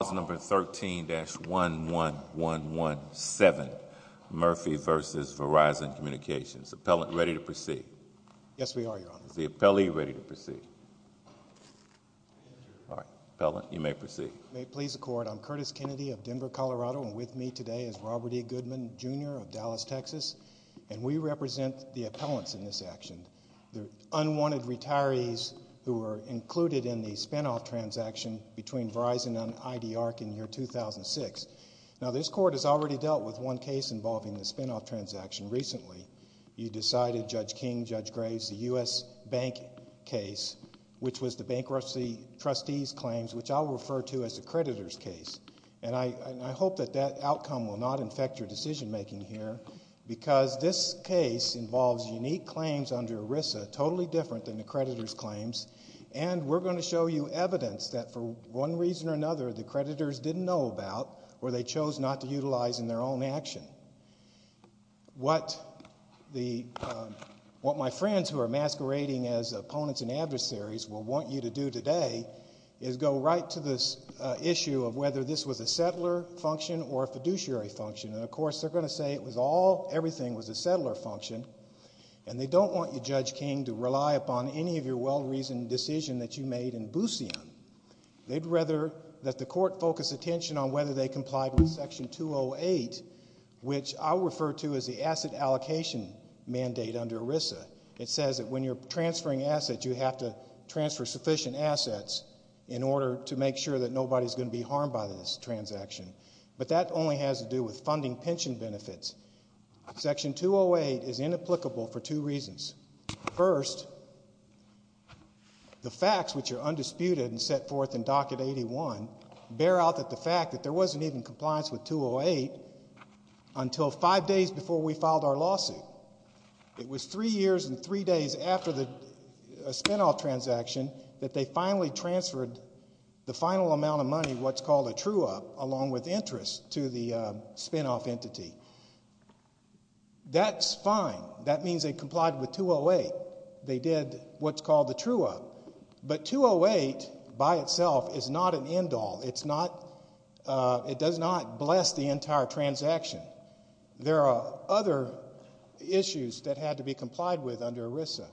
Clause number 13-11117, Murphy v. Verizon Communications. Appellant, ready to proceed? Yes, we are, Your Honor. Is the appellee ready to proceed? All right. Appellant, you may proceed. May it please the Court, I'm Curtis Kennedy of Denver, Colorado, and with me today is Robert E. Goodman, Jr. of Dallas, Texas, and we represent the appellants in this action, the unwanted retirees who were included in the spinoff transaction between Verizon and IDARC in the year 2006. Now, this Court has already dealt with one case involving the spinoff transaction recently. You decided, Judge King, Judge Graves, the U.S. Bank case, which was the bankruptcy trustee's claims, which I'll refer to as the creditor's case, and I hope that that outcome will not infect your decision-making here because this case involves unique claims under ERISA, totally different than the creditor's claims, and we're going to show you evidence that for one reason or another the creditors didn't know about or they chose not to utilize in their own action. What my friends who are masquerading as opponents and adversaries will want you to do today is go right to this issue of whether this was a settler function or a fiduciary function, and, of course, they're going to say it was all, everything was a settler function, and they don't want you, Judge King, to rely upon any of your well-reasoned decisions that you made in Busian. They'd rather that the Court focus attention on whether they complied with Section 208, which I'll refer to as the asset allocation mandate under ERISA. It says that when you're transferring assets, you have to transfer sufficient assets in order to make sure that nobody's going to be harmed by this transaction, but that only has to do with funding pension benefits. Section 208 is inapplicable for two reasons. First, the facts, which are undisputed and set forth in Docket 81, bear out that the fact that there wasn't even compliance with 208 until five days before we filed our lawsuit. It was three years and three days after a spinoff transaction that they finally transferred the final amount of money, which is actually what's called a true-up, along with interest to the spinoff entity. That's fine. That means they complied with 208. They did what's called a true-up, but 208 by itself is not an end-all. It does not bless the entire transaction. There are other issues that had to be complied with under ERISA.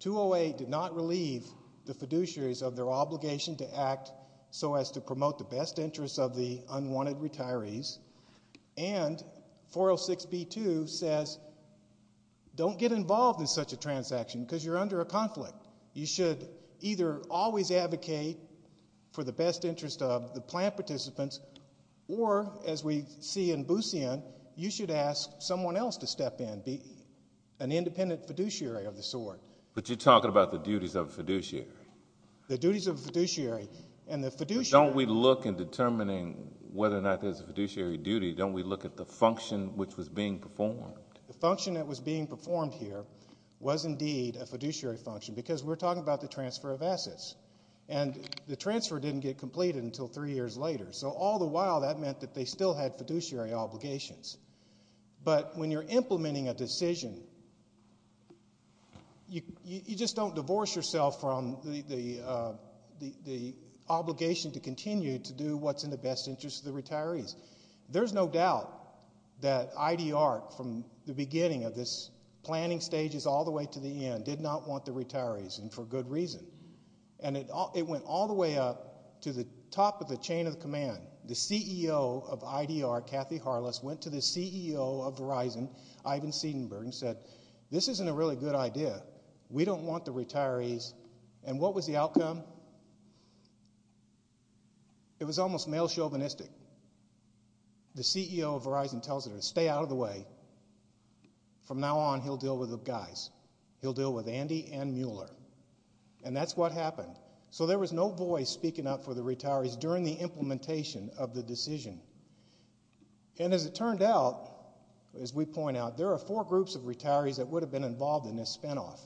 208 did not relieve the fiduciaries of their obligation to act so as to promote the best interests of the unwanted retirees, and 406B2 says don't get involved in such a transaction because you're under a conflict. You should either always advocate for the best interest of the plan participants, or as we see in Busian, you should ask someone else to step in, an independent fiduciary of the sort. But you're talking about the duties of a fiduciary. The duties of a fiduciary. But don't we look in determining whether or not there's a fiduciary duty? Don't we look at the function which was being performed? The function that was being performed here was indeed a fiduciary function because we're talking about the transfer of assets, and the transfer didn't get completed until three years later. So all the while that meant that they still had fiduciary obligations. But when you're implementing a decision, you just don't divorce yourself from the obligation to continue to do what's in the best interest of the retirees. There's no doubt that IDR, from the beginning of this planning stages all the way to the end, did not want the retirees, and for good reason. And it went all the way up to the top of the chain of command. The CEO of IDR, Kathy Harless, went to the CEO of Verizon, Ivan Seidenberg, and said, this isn't a really good idea. We don't want the retirees. And what was the outcome? It was almost male chauvinistic. The CEO of Verizon tells her to stay out of the way. From now on, he'll deal with the guys. He'll deal with Andy and Mueller. And that's what happened. So there was no voice speaking up for the retirees during the implementation of the decision. And as it turned out, as we point out, there are four groups of retirees that would have been involved in this spinoff.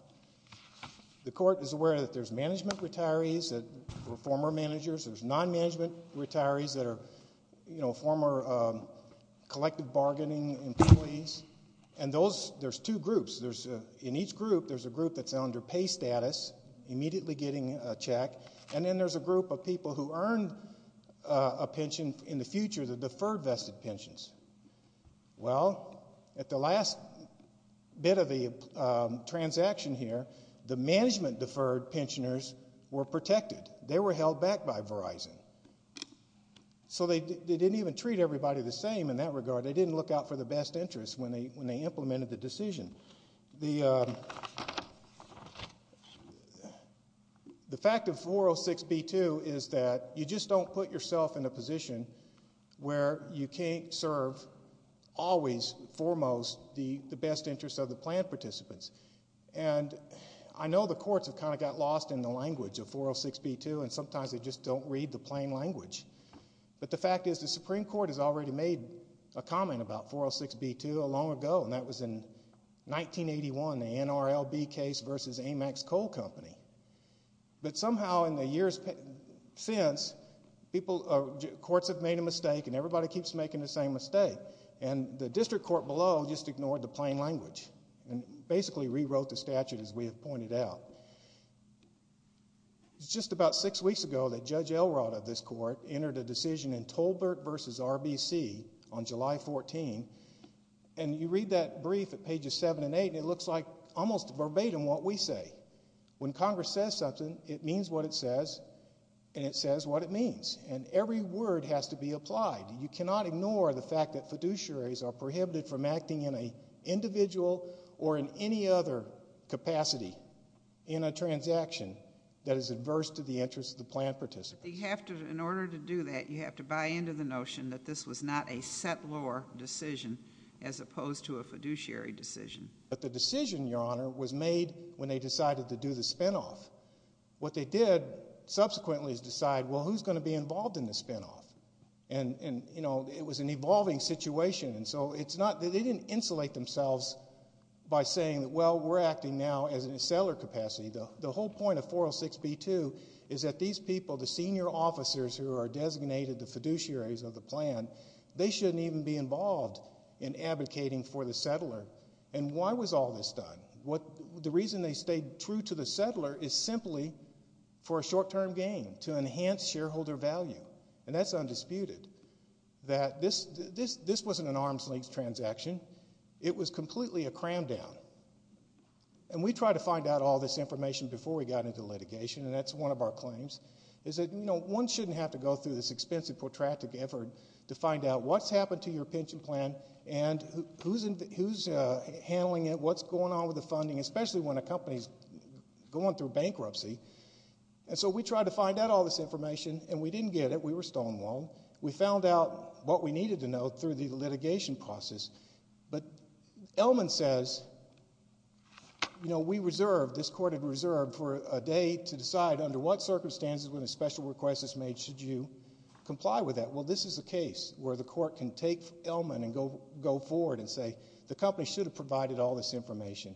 The court is aware that there's management retirees that were former managers. There's non-management retirees that are former collective bargaining employees. And there's two groups. In each group, there's a group that's under pay status, immediately getting a check. And then there's a group of people who earned a pension in the future, the deferred vested pensions. Well, at the last bit of the transaction here, the management deferred pensioners were protected. They were held back by Verizon. So they didn't even treat everybody the same in that regard. But they didn't look out for the best interest when they implemented the decision. The fact of 406B2 is that you just don't put yourself in a position where you can't serve, always, foremost, the best interest of the plan participants. And I know the courts have kind of got lost in the language of 406B2, and sometimes they just don't read the plain language. But the fact is the Supreme Court has already made a comment about 406B2 long ago, and that was in 1981, the NRLB case versus Amex Coal Company. But somehow in the years since, courts have made a mistake, and everybody keeps making the same mistake. And the district court below just ignored the plain language and basically rewrote the statute as we have pointed out. It was just about six weeks ago that Judge Elrod of this court entered a decision in Tolbert v. RBC on July 14. And you read that brief at pages 7 and 8, and it looks like almost verbatim what we say. When Congress says something, it means what it says, and it says what it means. And every word has to be applied. You cannot ignore the fact that fiduciaries are prohibited from acting in an individual or in any other capacity in a transaction that is adverse to the interests of the planned participants. In order to do that, you have to buy into the notion that this was not a settlor decision as opposed to a fiduciary decision. But the decision, Your Honor, was made when they decided to do the spinoff. What they did subsequently is decide, well, who's going to be involved in the spinoff? And, you know, it was an evolving situation. And so they didn't insulate themselves by saying, well, we're acting now as a settlor capacity. The whole point of 406b-2 is that these people, the senior officers who are designated the fiduciaries of the plan, they shouldn't even be involved in advocating for the settlor. And why was all this done? The reason they stayed true to the settlor is simply for a short-term gain, to enhance shareholder value, and that's undisputed. This wasn't an arm's-length transaction. It was completely a cram-down. And we tried to find out all this information before we got into litigation, and that's one of our claims, is that one shouldn't have to go through this expensive, protracted effort to find out what's happened to your pension plan and who's handling it, what's going on with the funding, especially when a company's going through bankruptcy. And so we tried to find out all this information, and we didn't get it. We were stonewalled. We found out what we needed to know through the litigation process. But Ellman says, you know, we reserved, this court had reserved, for a day to decide under what circumstances, when a special request is made, should you comply with that. Well, this is a case where the court can take Ellman and go forward and say, the company should have provided all this information.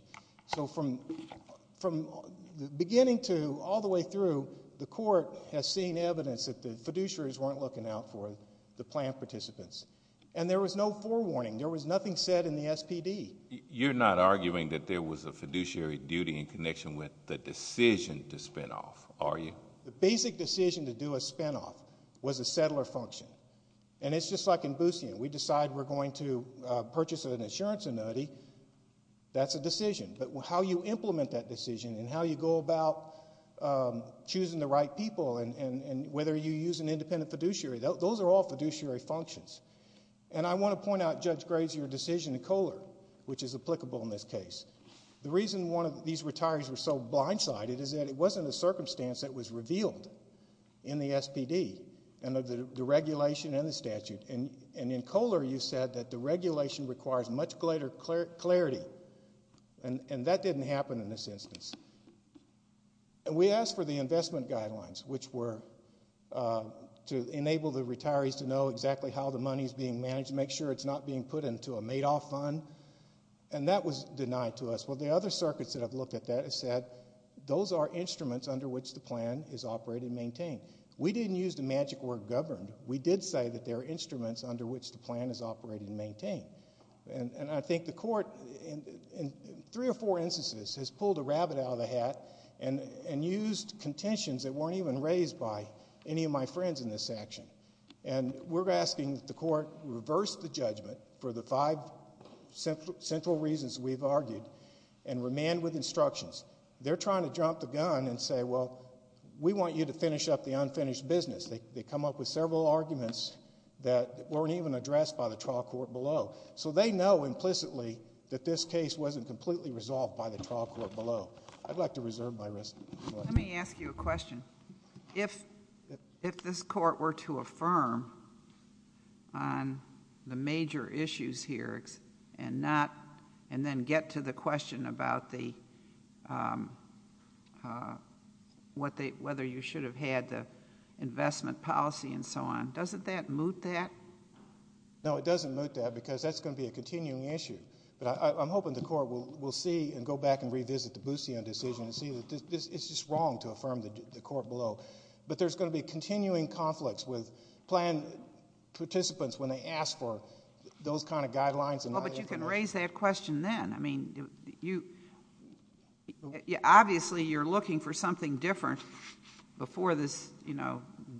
So from the beginning to all the way through, the court has seen evidence that the fiduciaries weren't looking out for the plan participants. And there was no forewarning. There was nothing said in the SPD. You're not arguing that there was a fiduciary duty in connection with the decision to spin off, are you? The basic decision to do a spin off was a settler function. And it's just like in Boostian. We decide we're going to purchase an insurance annuity. That's a decision. But how you implement that decision and how you go about choosing the right people and whether you use an independent fiduciary, those are all fiduciary functions. And I want to point out, Judge Graves, your decision in Kohler, which is applicable in this case. The reason these retirees were so blindsided is that it wasn't a circumstance that was revealed in the SPD and of the regulation and the statute. And in Kohler, you said that the regulation requires much greater clarity and that didn't happen in this instance. And we asked for the investment guidelines, which were to enable the retirees to know exactly how the money is being managed, make sure it's not being put into a made-off fund, and that was denied to us. Well, the other circuits that have looked at that have said those are instruments under which the plan is operated and maintained. We didn't use the magic word governed. We did say that there are instruments under which the plan is operated and maintained. And I think the court, in three or four instances, has pulled a rabbit out of the hat and used contentions that weren't even raised by any of my friends in this section. And we're asking that the court reverse the judgment for the five central reasons we've argued and remand with instructions. They're trying to drop the gun and say, well, we want you to finish up the unfinished business. They come up with several arguments that weren't even addressed by the trial court below. So they know implicitly that this case wasn't completely resolved by the trial court below. I'd like to reserve my rest. Let me ask you a question. If this court were to affirm on the major issues here and then get to the question about whether you should have had the investment policy and so on, doesn't that moot that? No, it doesn't moot that because that's going to be a continuing issue. But I'm hoping the court will see and go back and revisit the Bousillon decision and see that it's just wrong to affirm the court below. But there's going to be continuing conflicts with plan participants when they ask for those kind of guidelines. But you can raise that question then. I mean, obviously you're looking for something different before this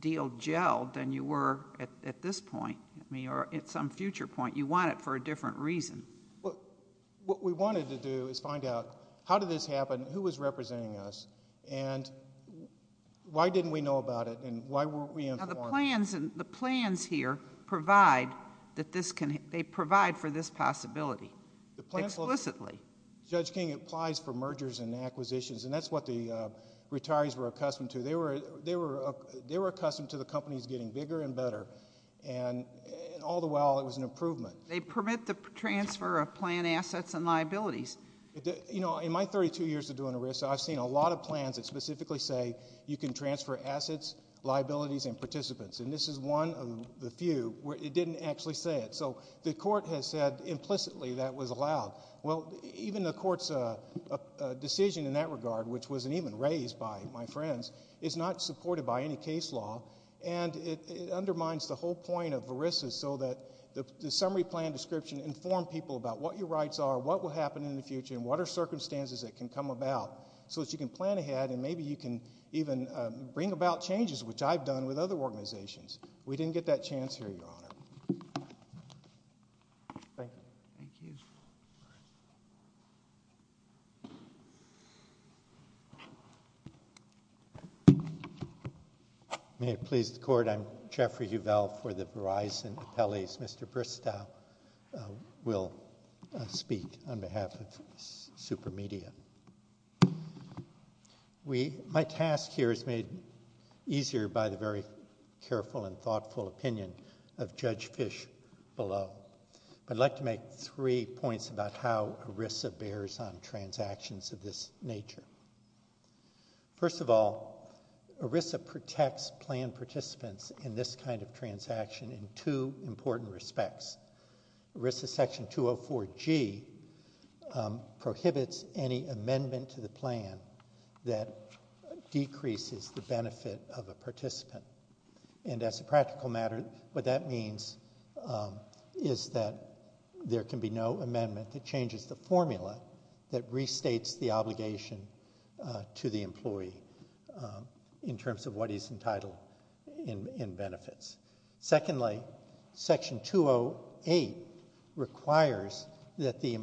deal gelled than you were at this point or at some future point. You want it for a different reason. What we wanted to do is find out how did this happen, who was representing us, and why didn't we know about it and why weren't we informed? Now, the plans here provide for this possibility explicitly. Judge King, it applies for mergers and acquisitions, and that's what the retirees were accustomed to. They were accustomed to the companies getting bigger and better. And all the while it was an improvement. They permit the transfer of plan assets and liabilities. You know, in my 32 years of doing ERISA, I've seen a lot of plans that specifically say you can transfer assets, liabilities, and participants. And this is one of the few where it didn't actually say it. So the court has said implicitly that was allowed. Well, even the court's decision in that regard, which wasn't even raised by my friends, is not supported by any case law. And it undermines the whole point of ERISA so that the summary plan description informed people about what your rights are, what will happen in the future, and what are circumstances that can come about so that you can plan ahead and maybe you can even bring about changes, which I've done with other organizations. We didn't get that chance here, Your Honor. Thank you. Thank you. May it please the Court, I'm Jeffrey Uvell for the Verizon Appellees. Mr. Bristow will speak on behalf of Supermedia. My task here is made easier by the very careful and thoughtful opinion of Judge Fish below. I'd like to make three points about how ERISA bears on transactions of this nature. First of all, ERISA protects plan participants in this kind of transaction in two important respects. ERISA Section 204G prohibits any amendment to the plan that decreases the benefit of a participant. And as a practical matter, what that means is that there can be no amendment that changes the formula that restates the obligation to the employee in terms of what he's entitled in benefits. Secondly, Section 208 requires that the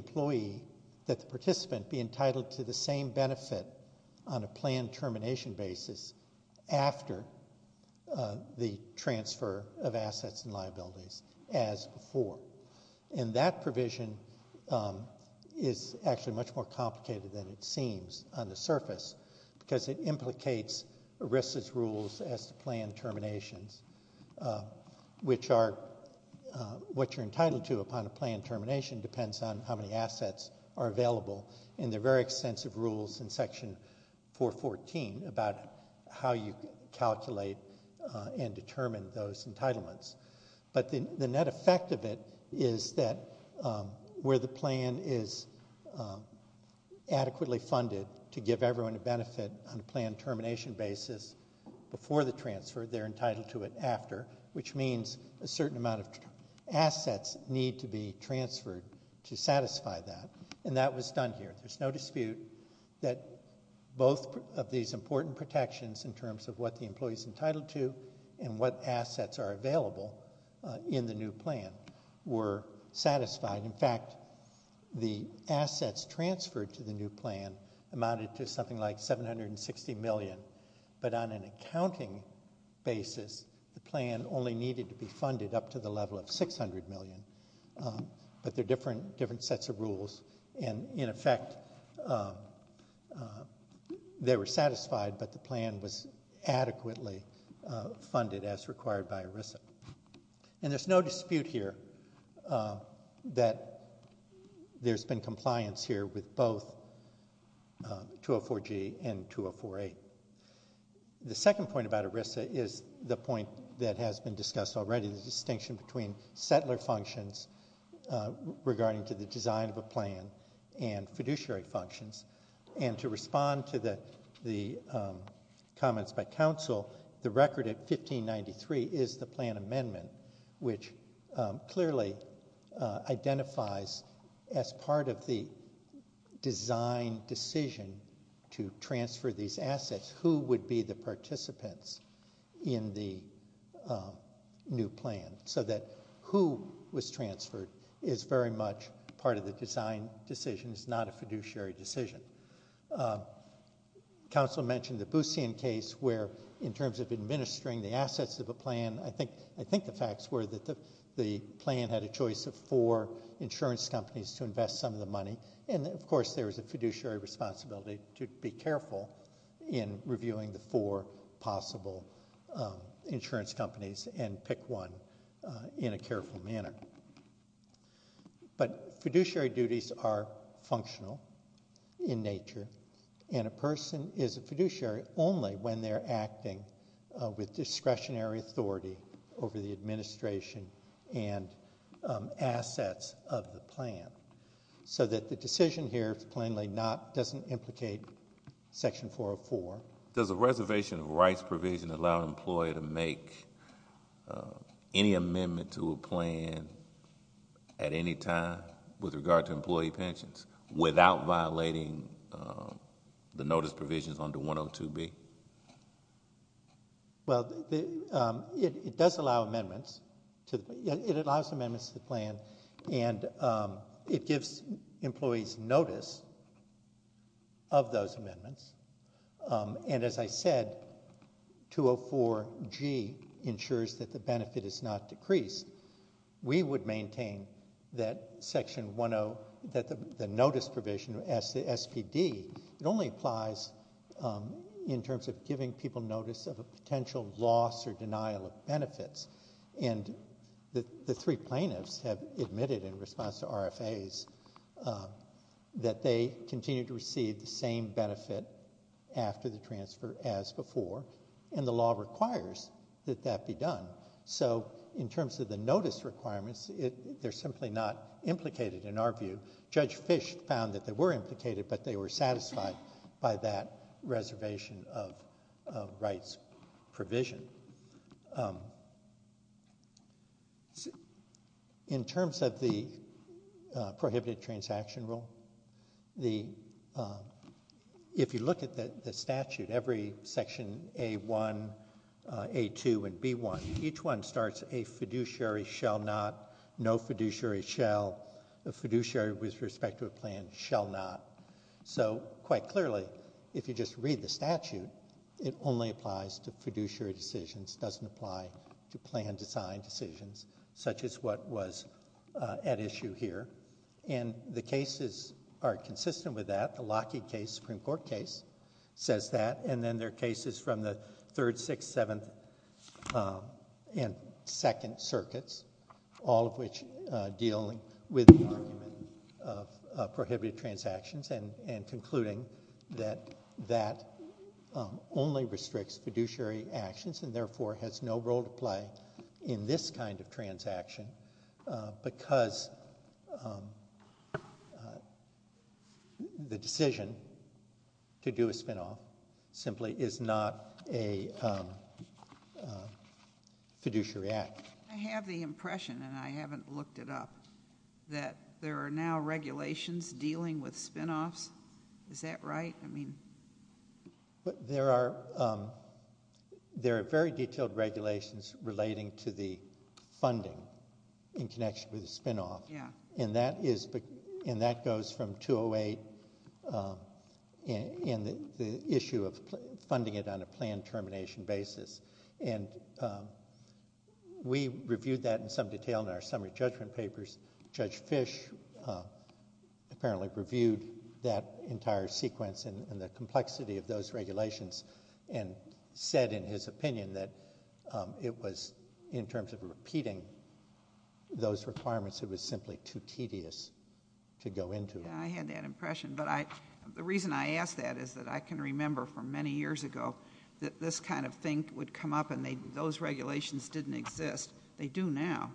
participant be entitled to the same benefit on a planned termination basis after the transfer of assets and liabilities as before. And that provision is actually much more complicated than it seems on the surface because it implicates ERISA's rules as to planned terminations, which are what you're entitled to upon a planned termination depends on how many assets are available and there are very extensive rules in Section 414 about how you calculate and determine those entitlements. But the net effect of it is that where the plan is adequately funded to give everyone a benefit on a planned termination basis before the transfer, they're entitled to it after, which means a certain amount of assets need to be transferred to satisfy that. And that was done here. There's no dispute that both of these important protections in terms of what the employee's entitled to and what assets are available in the new plan were satisfied. In fact, the assets transferred to the new plan amounted to something like $760 million, but on an accounting basis the plan only needed to be funded up to the level of $600 million, and in effect they were satisfied, but the plan was adequately funded as required by ERISA. And there's no dispute here that there's been compliance here with both 204-G and 204-A. The second point about ERISA is the point that has been discussed already, the distinction between settler functions regarding to the design of a plan and fiduciary functions. And to respond to the comments by counsel, the record at 1593 is the plan amendment, which clearly identifies as part of the design decision to transfer these assets who would be the participants in the new plan, so that who was transferred is very much part of the design decision. It's not a fiduciary decision. Counsel mentioned the Boosian case where in terms of administering the assets of a plan, I think the facts were that the plan had a choice of four insurance companies to invest some of the money, and, of course, there was a fiduciary responsibility to be careful in reviewing the four possible insurance companies and pick one in a careful manner. But fiduciary duties are functional in nature, and a person is a fiduciary only when they're acting with discretionary authority over the administration and assets of the plan so that the decision here plainly doesn't implicate Section 404. Does a reservation of rights provision allow an employer to make any amendment to a plan at any time with regard to employee pensions without violating the notice provisions under 102B? Well, it does allow amendments. It allows amendments to the plan, and it gives employees notice of those amendments, and as I said, 204G ensures that the benefit is not decreased. We would maintain that the notice provision, SPD, it only applies in terms of giving people notice of a potential loss or denial of benefits, and the three plaintiffs have admitted in response to RFAs that they continue to receive the same benefit after the transfer as before, and the law requires that that be done. So in terms of the notice requirements, they're simply not implicated in our view. Judge Fish found that they were implicated, but they were satisfied by that reservation of rights provision. In terms of the prohibited transaction rule, if you look at the statute, every Section A-1, A-2, and B-1, each one starts a fiduciary shall not, no fiduciary shall, a fiduciary with respect to a plan shall not. So quite clearly, if you just read the statute, it only applies to fiduciary decisions. It doesn't apply to plan design decisions such as what was at issue here, and the cases are consistent with that. The Lockheed case, Supreme Court case, says that, and then there are cases from the Third, Sixth, Seventh, and Second Circuits, all of which deal with the argument of prohibited transactions and concluding that that only restricts fiduciary actions and therefore has no role to play in this kind of transaction because the decision to do a spinoff simply is not a fiduciary act. I have the impression, and I haven't looked it up, that there are now regulations dealing with spinoffs. Is that right? There are very detailed regulations relating to the funding in connection with the spinoff, and that goes from 208 and the issue of funding it on a planned termination basis. We reviewed that in some detail in our summary judgment papers. Judge Fish apparently reviewed that entire sequence and the complexity of those regulations and said in his opinion that it was, in terms of repeating those requirements, it was simply too tedious to go into. I had that impression, but the reason I ask that is that I can remember from many years ago that this kind of thing would come up and those regulations didn't exist. They do now.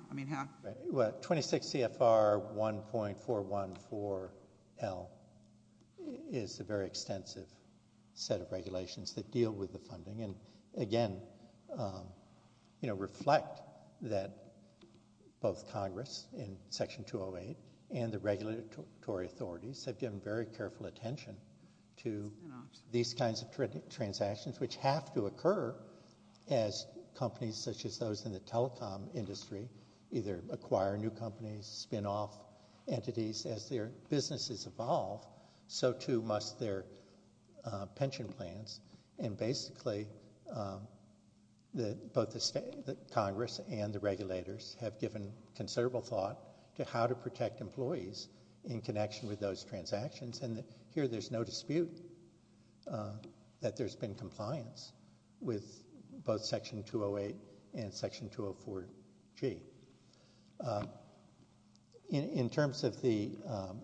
26 CFR 1.414L is a very extensive set of regulations that deal with the funding and, again, reflect that both Congress in Section 208 and the regulatory authorities have given very careful attention to these kinds of transactions which have to occur as companies such as those in the telecom industry either acquire new companies, spinoff entities as their businesses evolve, so too must their pension plans, and basically both Congress and the regulators have given considerable thought to how to protect employees in connection with those transactions, and here there's no dispute that there's been compliance with both Section 208 and Section 204G. In terms of the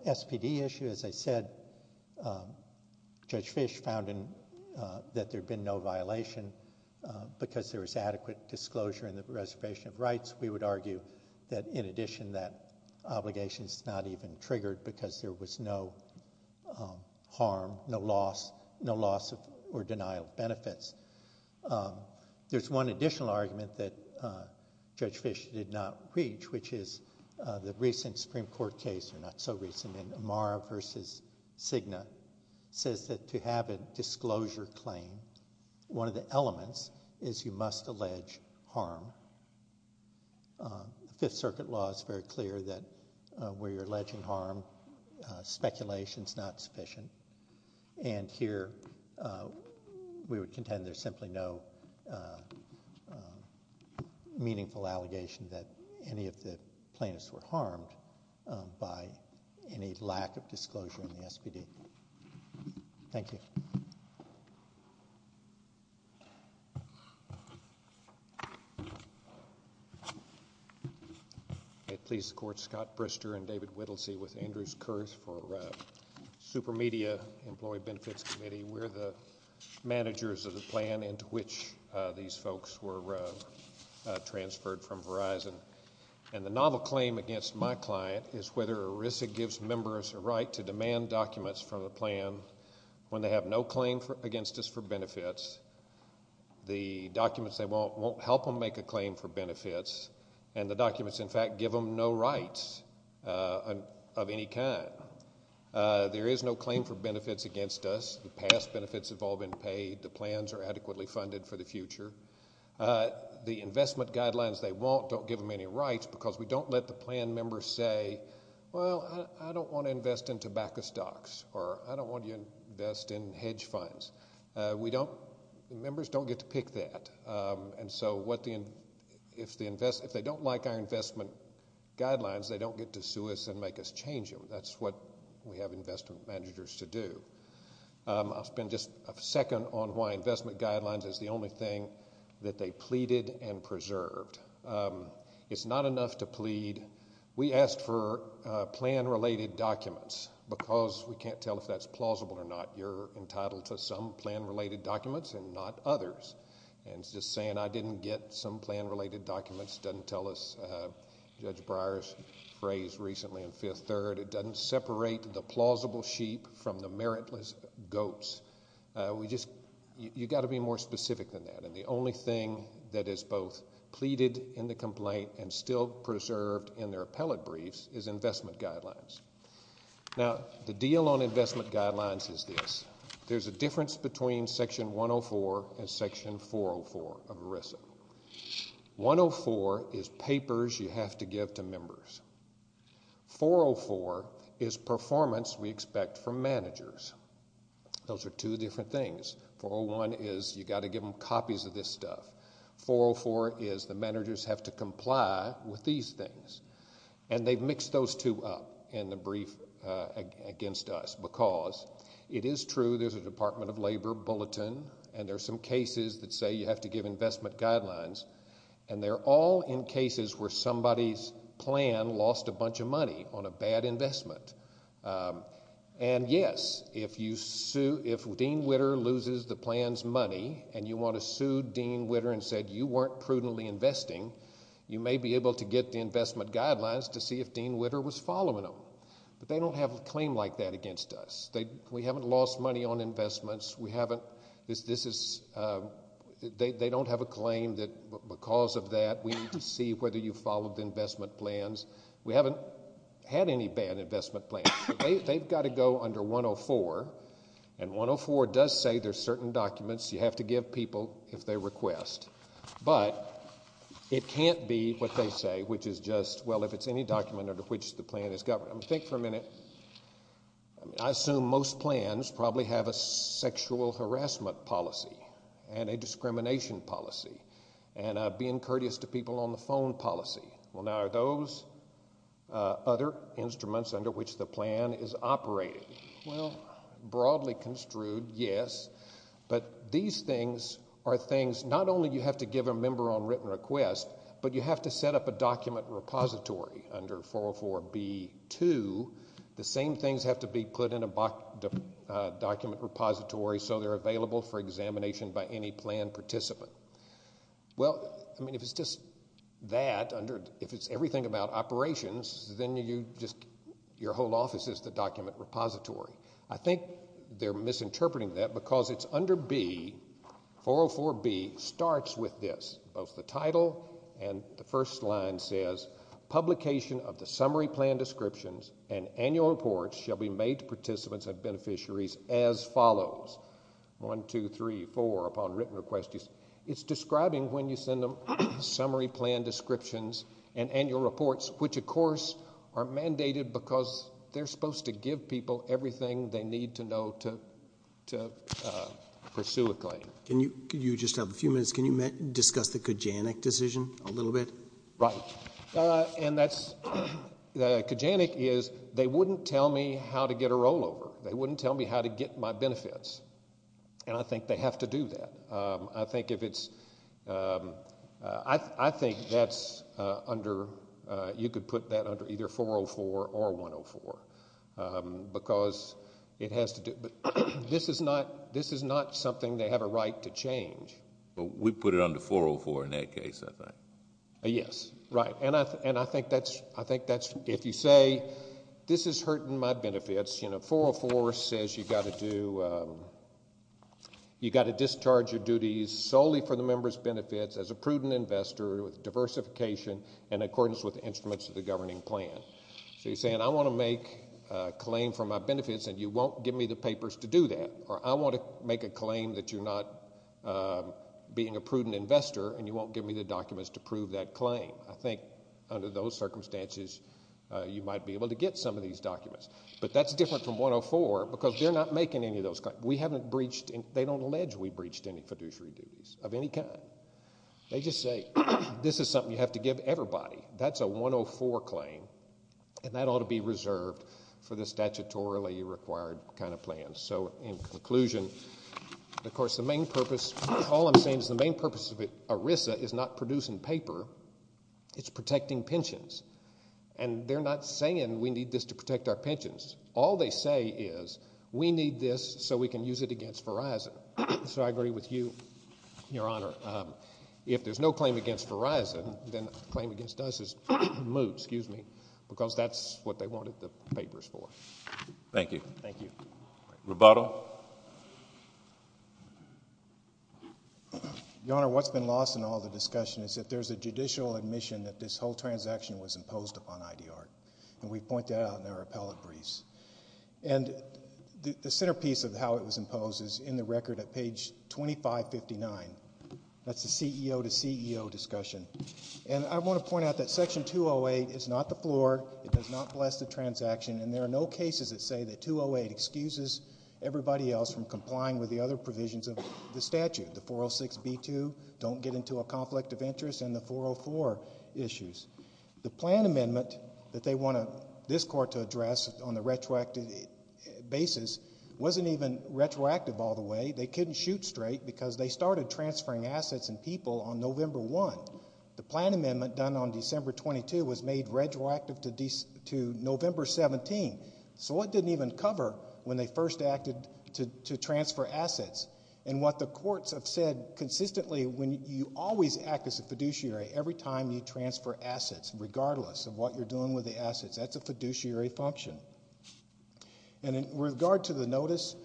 SPD issue, as I said, Judge Fish found that there'd been no violation because there was adequate disclosure in the reservation of rights. We would argue that, in addition, that obligation's not even triggered because there was no harm, no loss, or denial of benefits. There's one additional argument that Judge Fish did not reach, which is the recent Supreme Court case, or not so recent, in Amara v. Cigna, says that to have a disclosure claim, one of the elements is you must allege harm. The Fifth Circuit law is very clear that where you're alleging harm, speculation's not sufficient, and here we would contend there's simply no meaningful allegation that any of the plaintiffs were harmed by any lack of disclosure in the SPD. Thank you. May it please the Court. Scott Brister and David Whittlesey with Andrews Kurth for Supermedia Employee Benefits Committee. We're the managers of the plan into which these folks were transferred from Verizon, and the novel claim against my client is whether ERISA gives members a right to demand documents from the plan when they have no claim against us for benefits. The documents they want won't help them make a claim for benefits, and the documents, in fact, give them no rights of any kind. There is no claim for benefits against us. The past benefits have all been paid. The plans are adequately funded for the future. The investment guidelines they want don't give them any rights because we don't let the plan members say, well, I don't want to invest in tobacco stocks, or I don't want to invest in hedge funds. Members don't get to pick that, and so if they don't like our investment guidelines, they don't get to sue us and make us change them. That's what we have investment managers to do. I'll spend just a second on why investment guidelines is the only thing that they pleaded and preserved. It's not enough to plead. We asked for plan-related documents because we can't tell if that's plausible or not. You're entitled to some plan-related documents and not others, and just saying I didn't get some plan-related documents doesn't tell us Judge Breyer's phrase recently in Fifth Third. It doesn't separate the plausible sheep from the meritless goats. You've got to be more specific than that, and the only thing that is both pleaded in the complaint and still preserved in their appellate briefs is investment guidelines. Now, the deal on investment guidelines is this. There's a difference between Section 104 and Section 404 of ERISA. 104 is papers you have to give to members. 404 is performance we expect from managers. Those are two different things. 401 is you've got to give them copies of this stuff. 404 is the managers have to comply with these things, and they've mixed those two up in the brief against us because it is true there's a Department of Labor bulletin, and there are some cases that say you have to give investment guidelines, and they're all in cases where somebody's plan lost a bunch of money on a bad investment. And, yes, if Dean Witter loses the plan's money and you want to sue Dean Witter and say you weren't prudently investing, you may be able to get the investment guidelines to see if Dean Witter was following them. But they don't have a claim like that against us. We haven't lost money on investments. They don't have a claim that because of that we need to see whether you followed the investment plans. We haven't had any bad investment plans. They've got to go under 104, and 104 does say there's certain documents you have to give people if they request. But it can't be what they say, which is just, well, if it's any document under which the plan is governed. Think for a minute. I assume most plans probably have a sexual harassment policy and a discrimination policy and being courteous to people on the phone policy. Well, now, are those other instruments under which the plan is operated? Well, broadly construed, yes. But these things are things not only you have to give a member on written request, but you have to set up a document repository under 404B2. The same things have to be put in a document repository so they're available for examination by any plan participant. Well, I mean, if it's just that, if it's everything about operations, then your whole office is the document repository. I think they're misinterpreting that because it's under B, 404B, starts with this. Both the title and the first line says, publication of the summary plan descriptions and annual reports shall be made to participants and beneficiaries as follows. One, two, three, four, upon written request. It's describing when you send them summary plan descriptions and annual reports, which, of course, are mandated because they're supposed to give people everything they need to know to pursue a claim. You just have a few minutes. Can you discuss the Kajanek decision a little bit? Right. Kajanek is they wouldn't tell me how to get a rollover. They wouldn't tell me how to get my benefits, and I think they have to do that. I think if it's, I think that's under, you could put that under either 404 or 104 because it has to do, this is not something they have a right to change. We put it under 404 in that case, I think. Yes, right, and I think that's, if you say this is hurting my benefits, you know, 404 says you've got to do, you've got to discharge your duties solely for the member's benefits as a prudent investor with diversification in accordance with the instruments of the governing plan. So you're saying I want to make a claim for my benefits and you won't give me the papers to do that, or I want to make a claim that you're not being a prudent investor and you won't give me the documents to prove that claim. I think under those circumstances you might be able to get some of these documents, but that's different from 104 because they're not making any of those claims. We haven't breached, they don't allege we breached any fiduciary duties of any kind. They just say this is something you have to give everybody. That's a 104 claim, and that ought to be reserved for the statutorily required kind of plan. So in conclusion, of course the main purpose, all I'm saying is the main purpose of ERISA is not producing paper, it's protecting pensions, and they're not saying we need this to protect our pensions. All they say is we need this so we can use it against Verizon. So I agree with you, Your Honor. If there's no claim against Verizon, then the claim against us is Moot, because that's what they wanted the papers for. Thank you. Thank you. Roboto. Your Honor, what's been lost in all the discussion is that there's a judicial admission that this whole transaction was imposed upon IDR, and we point that out in our appellate briefs. And the centerpiece of how it was imposed is in the record at page 2559. That's the CEO-to-CEO discussion. And I want to point out that Section 208 is not the floor. It does not bless the transaction, and there are no cases that say that 208 excuses everybody else from complying with the other provisions of the statute, the 406B2, don't get into a conflict of interest, and the 404 issues. The plan amendment that they want this court to address on the retroactive basis wasn't even retroactive all the way. They couldn't shoot straight because they started transferring assets and people on November 1. The plan amendment done on December 22 was made retroactive to November 17. So it didn't even cover when they first acted to transfer assets. And what the courts have said consistently, when you always act as a fiduciary every time you transfer assets, regardless of what you're doing with the assets, that's a fiduciary function. And in regard to the notice,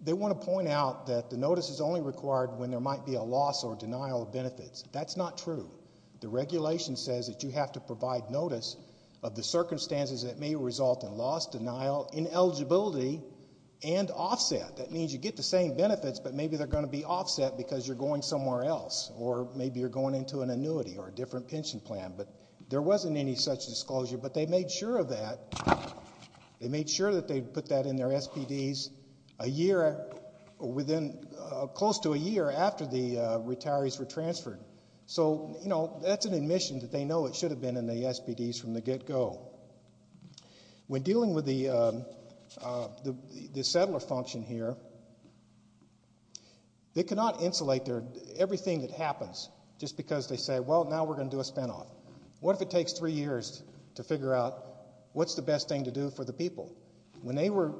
they want to point out that the notice is only required when there might be a loss or denial of benefits. That's not true. The regulation says that you have to provide notice of the circumstances that may result in loss, denial, ineligibility, and offset. That means you get the same benefits, but maybe they're going to be offset because you're going somewhere else, or maybe you're going into an annuity or a different pension plan. But there wasn't any such disclosure. But they made sure of that. They made sure that they put that in their SPDs close to a year after the retirees were transferred. So that's an admission that they know it should have been in the SPDs from the get-go. When dealing with the settler function here, they cannot insulate everything that happens just because they say, well, now we're going to do a spinoff. What if it takes three years to figure out what's the best thing to do for the people? When they were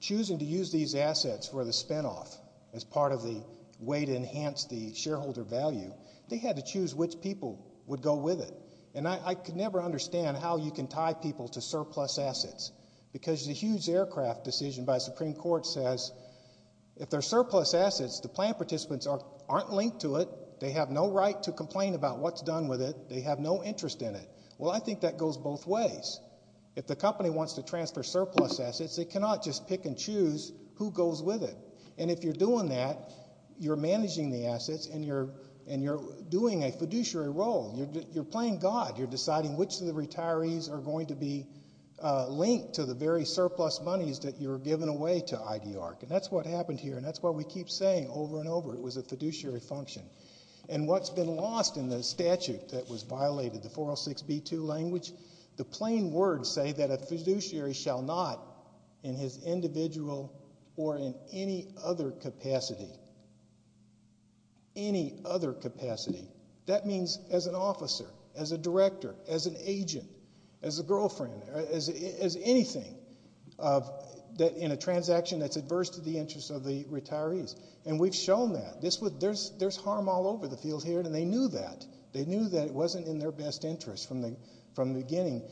choosing to use these assets for the spinoff as part of the way to enhance the shareholder value, they had to choose which people would go with it. And I could never understand how you can tie people to surplus assets because the huge aircraft decision by the Supreme Court says, if they're surplus assets, the plan participants aren't linked to it. They have no right to complain about what's done with it. They have no interest in it. Well, I think that goes both ways. If the company wants to transfer surplus assets, they cannot just pick and choose who goes with it. And if you're doing that, you're managing the assets, and you're doing a fiduciary role. You're playing God. You're deciding which of the retirees are going to be linked to the very surplus monies that you're giving away to IDARC. And that's what happened here, and that's what we keep saying over and over. It was a fiduciary function. And what's been lost in the statute that was violated, the 406b2 language, the plain words say that a fiduciary shall not, in his individual or in any other capacity, any other capacity, that means as an officer, as a director, as an agent, as a girlfriend, as anything in a transaction that's adverse to the interest of the retirees. And we've shown that. There's harm all over the field here, and they knew that. They knew that it wasn't in their best interest from the beginning.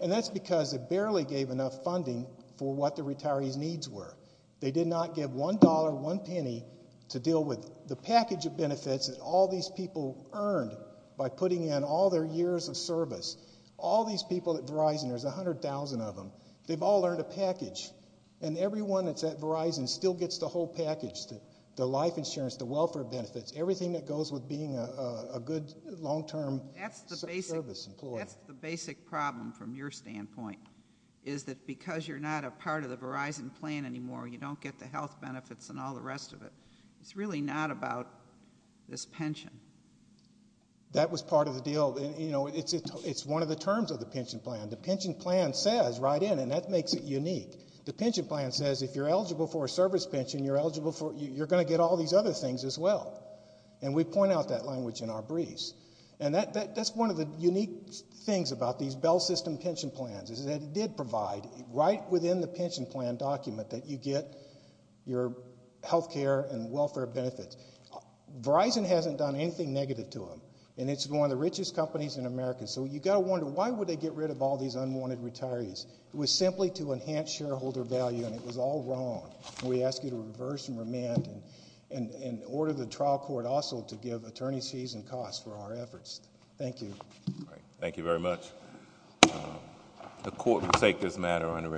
And that's because they barely gave enough funding for what the retirees' needs were. They did not give $1, one penny, to deal with the package of benefits that all these people earned by putting in all their years of service. All these people at Verizon, there's 100,000 of them, they've all earned a package. And everyone that's at Verizon still gets the whole package, the life insurance, the welfare benefits, everything that goes with being a good long-term service employee. That's the basic problem from your standpoint, is that because you're not a part of the Verizon plan anymore, you don't get the health benefits and all the rest of it. It's really not about this pension. That was part of the deal. You know, it's one of the terms of the pension plan. The pension plan says right in, and that makes it unique, the pension plan says if you're eligible for a service pension, you're going to get all these other things as well. And we point out that language in our briefs. And that's one of the unique things about these Bell System pension plans, is that it did provide right within the pension plan document that you get your health care and welfare benefits. Verizon hasn't done anything negative to them, and it's one of the richest companies in America. So you've got to wonder, why would they get rid of all these unwanted retirees? It was simply to enhance shareholder value, and it was all wrong. We ask you to reverse and remand and order the trial court also to give attorneys fees and costs for our efforts. Thank you. Thank you very much. The court will take this matter under advisement.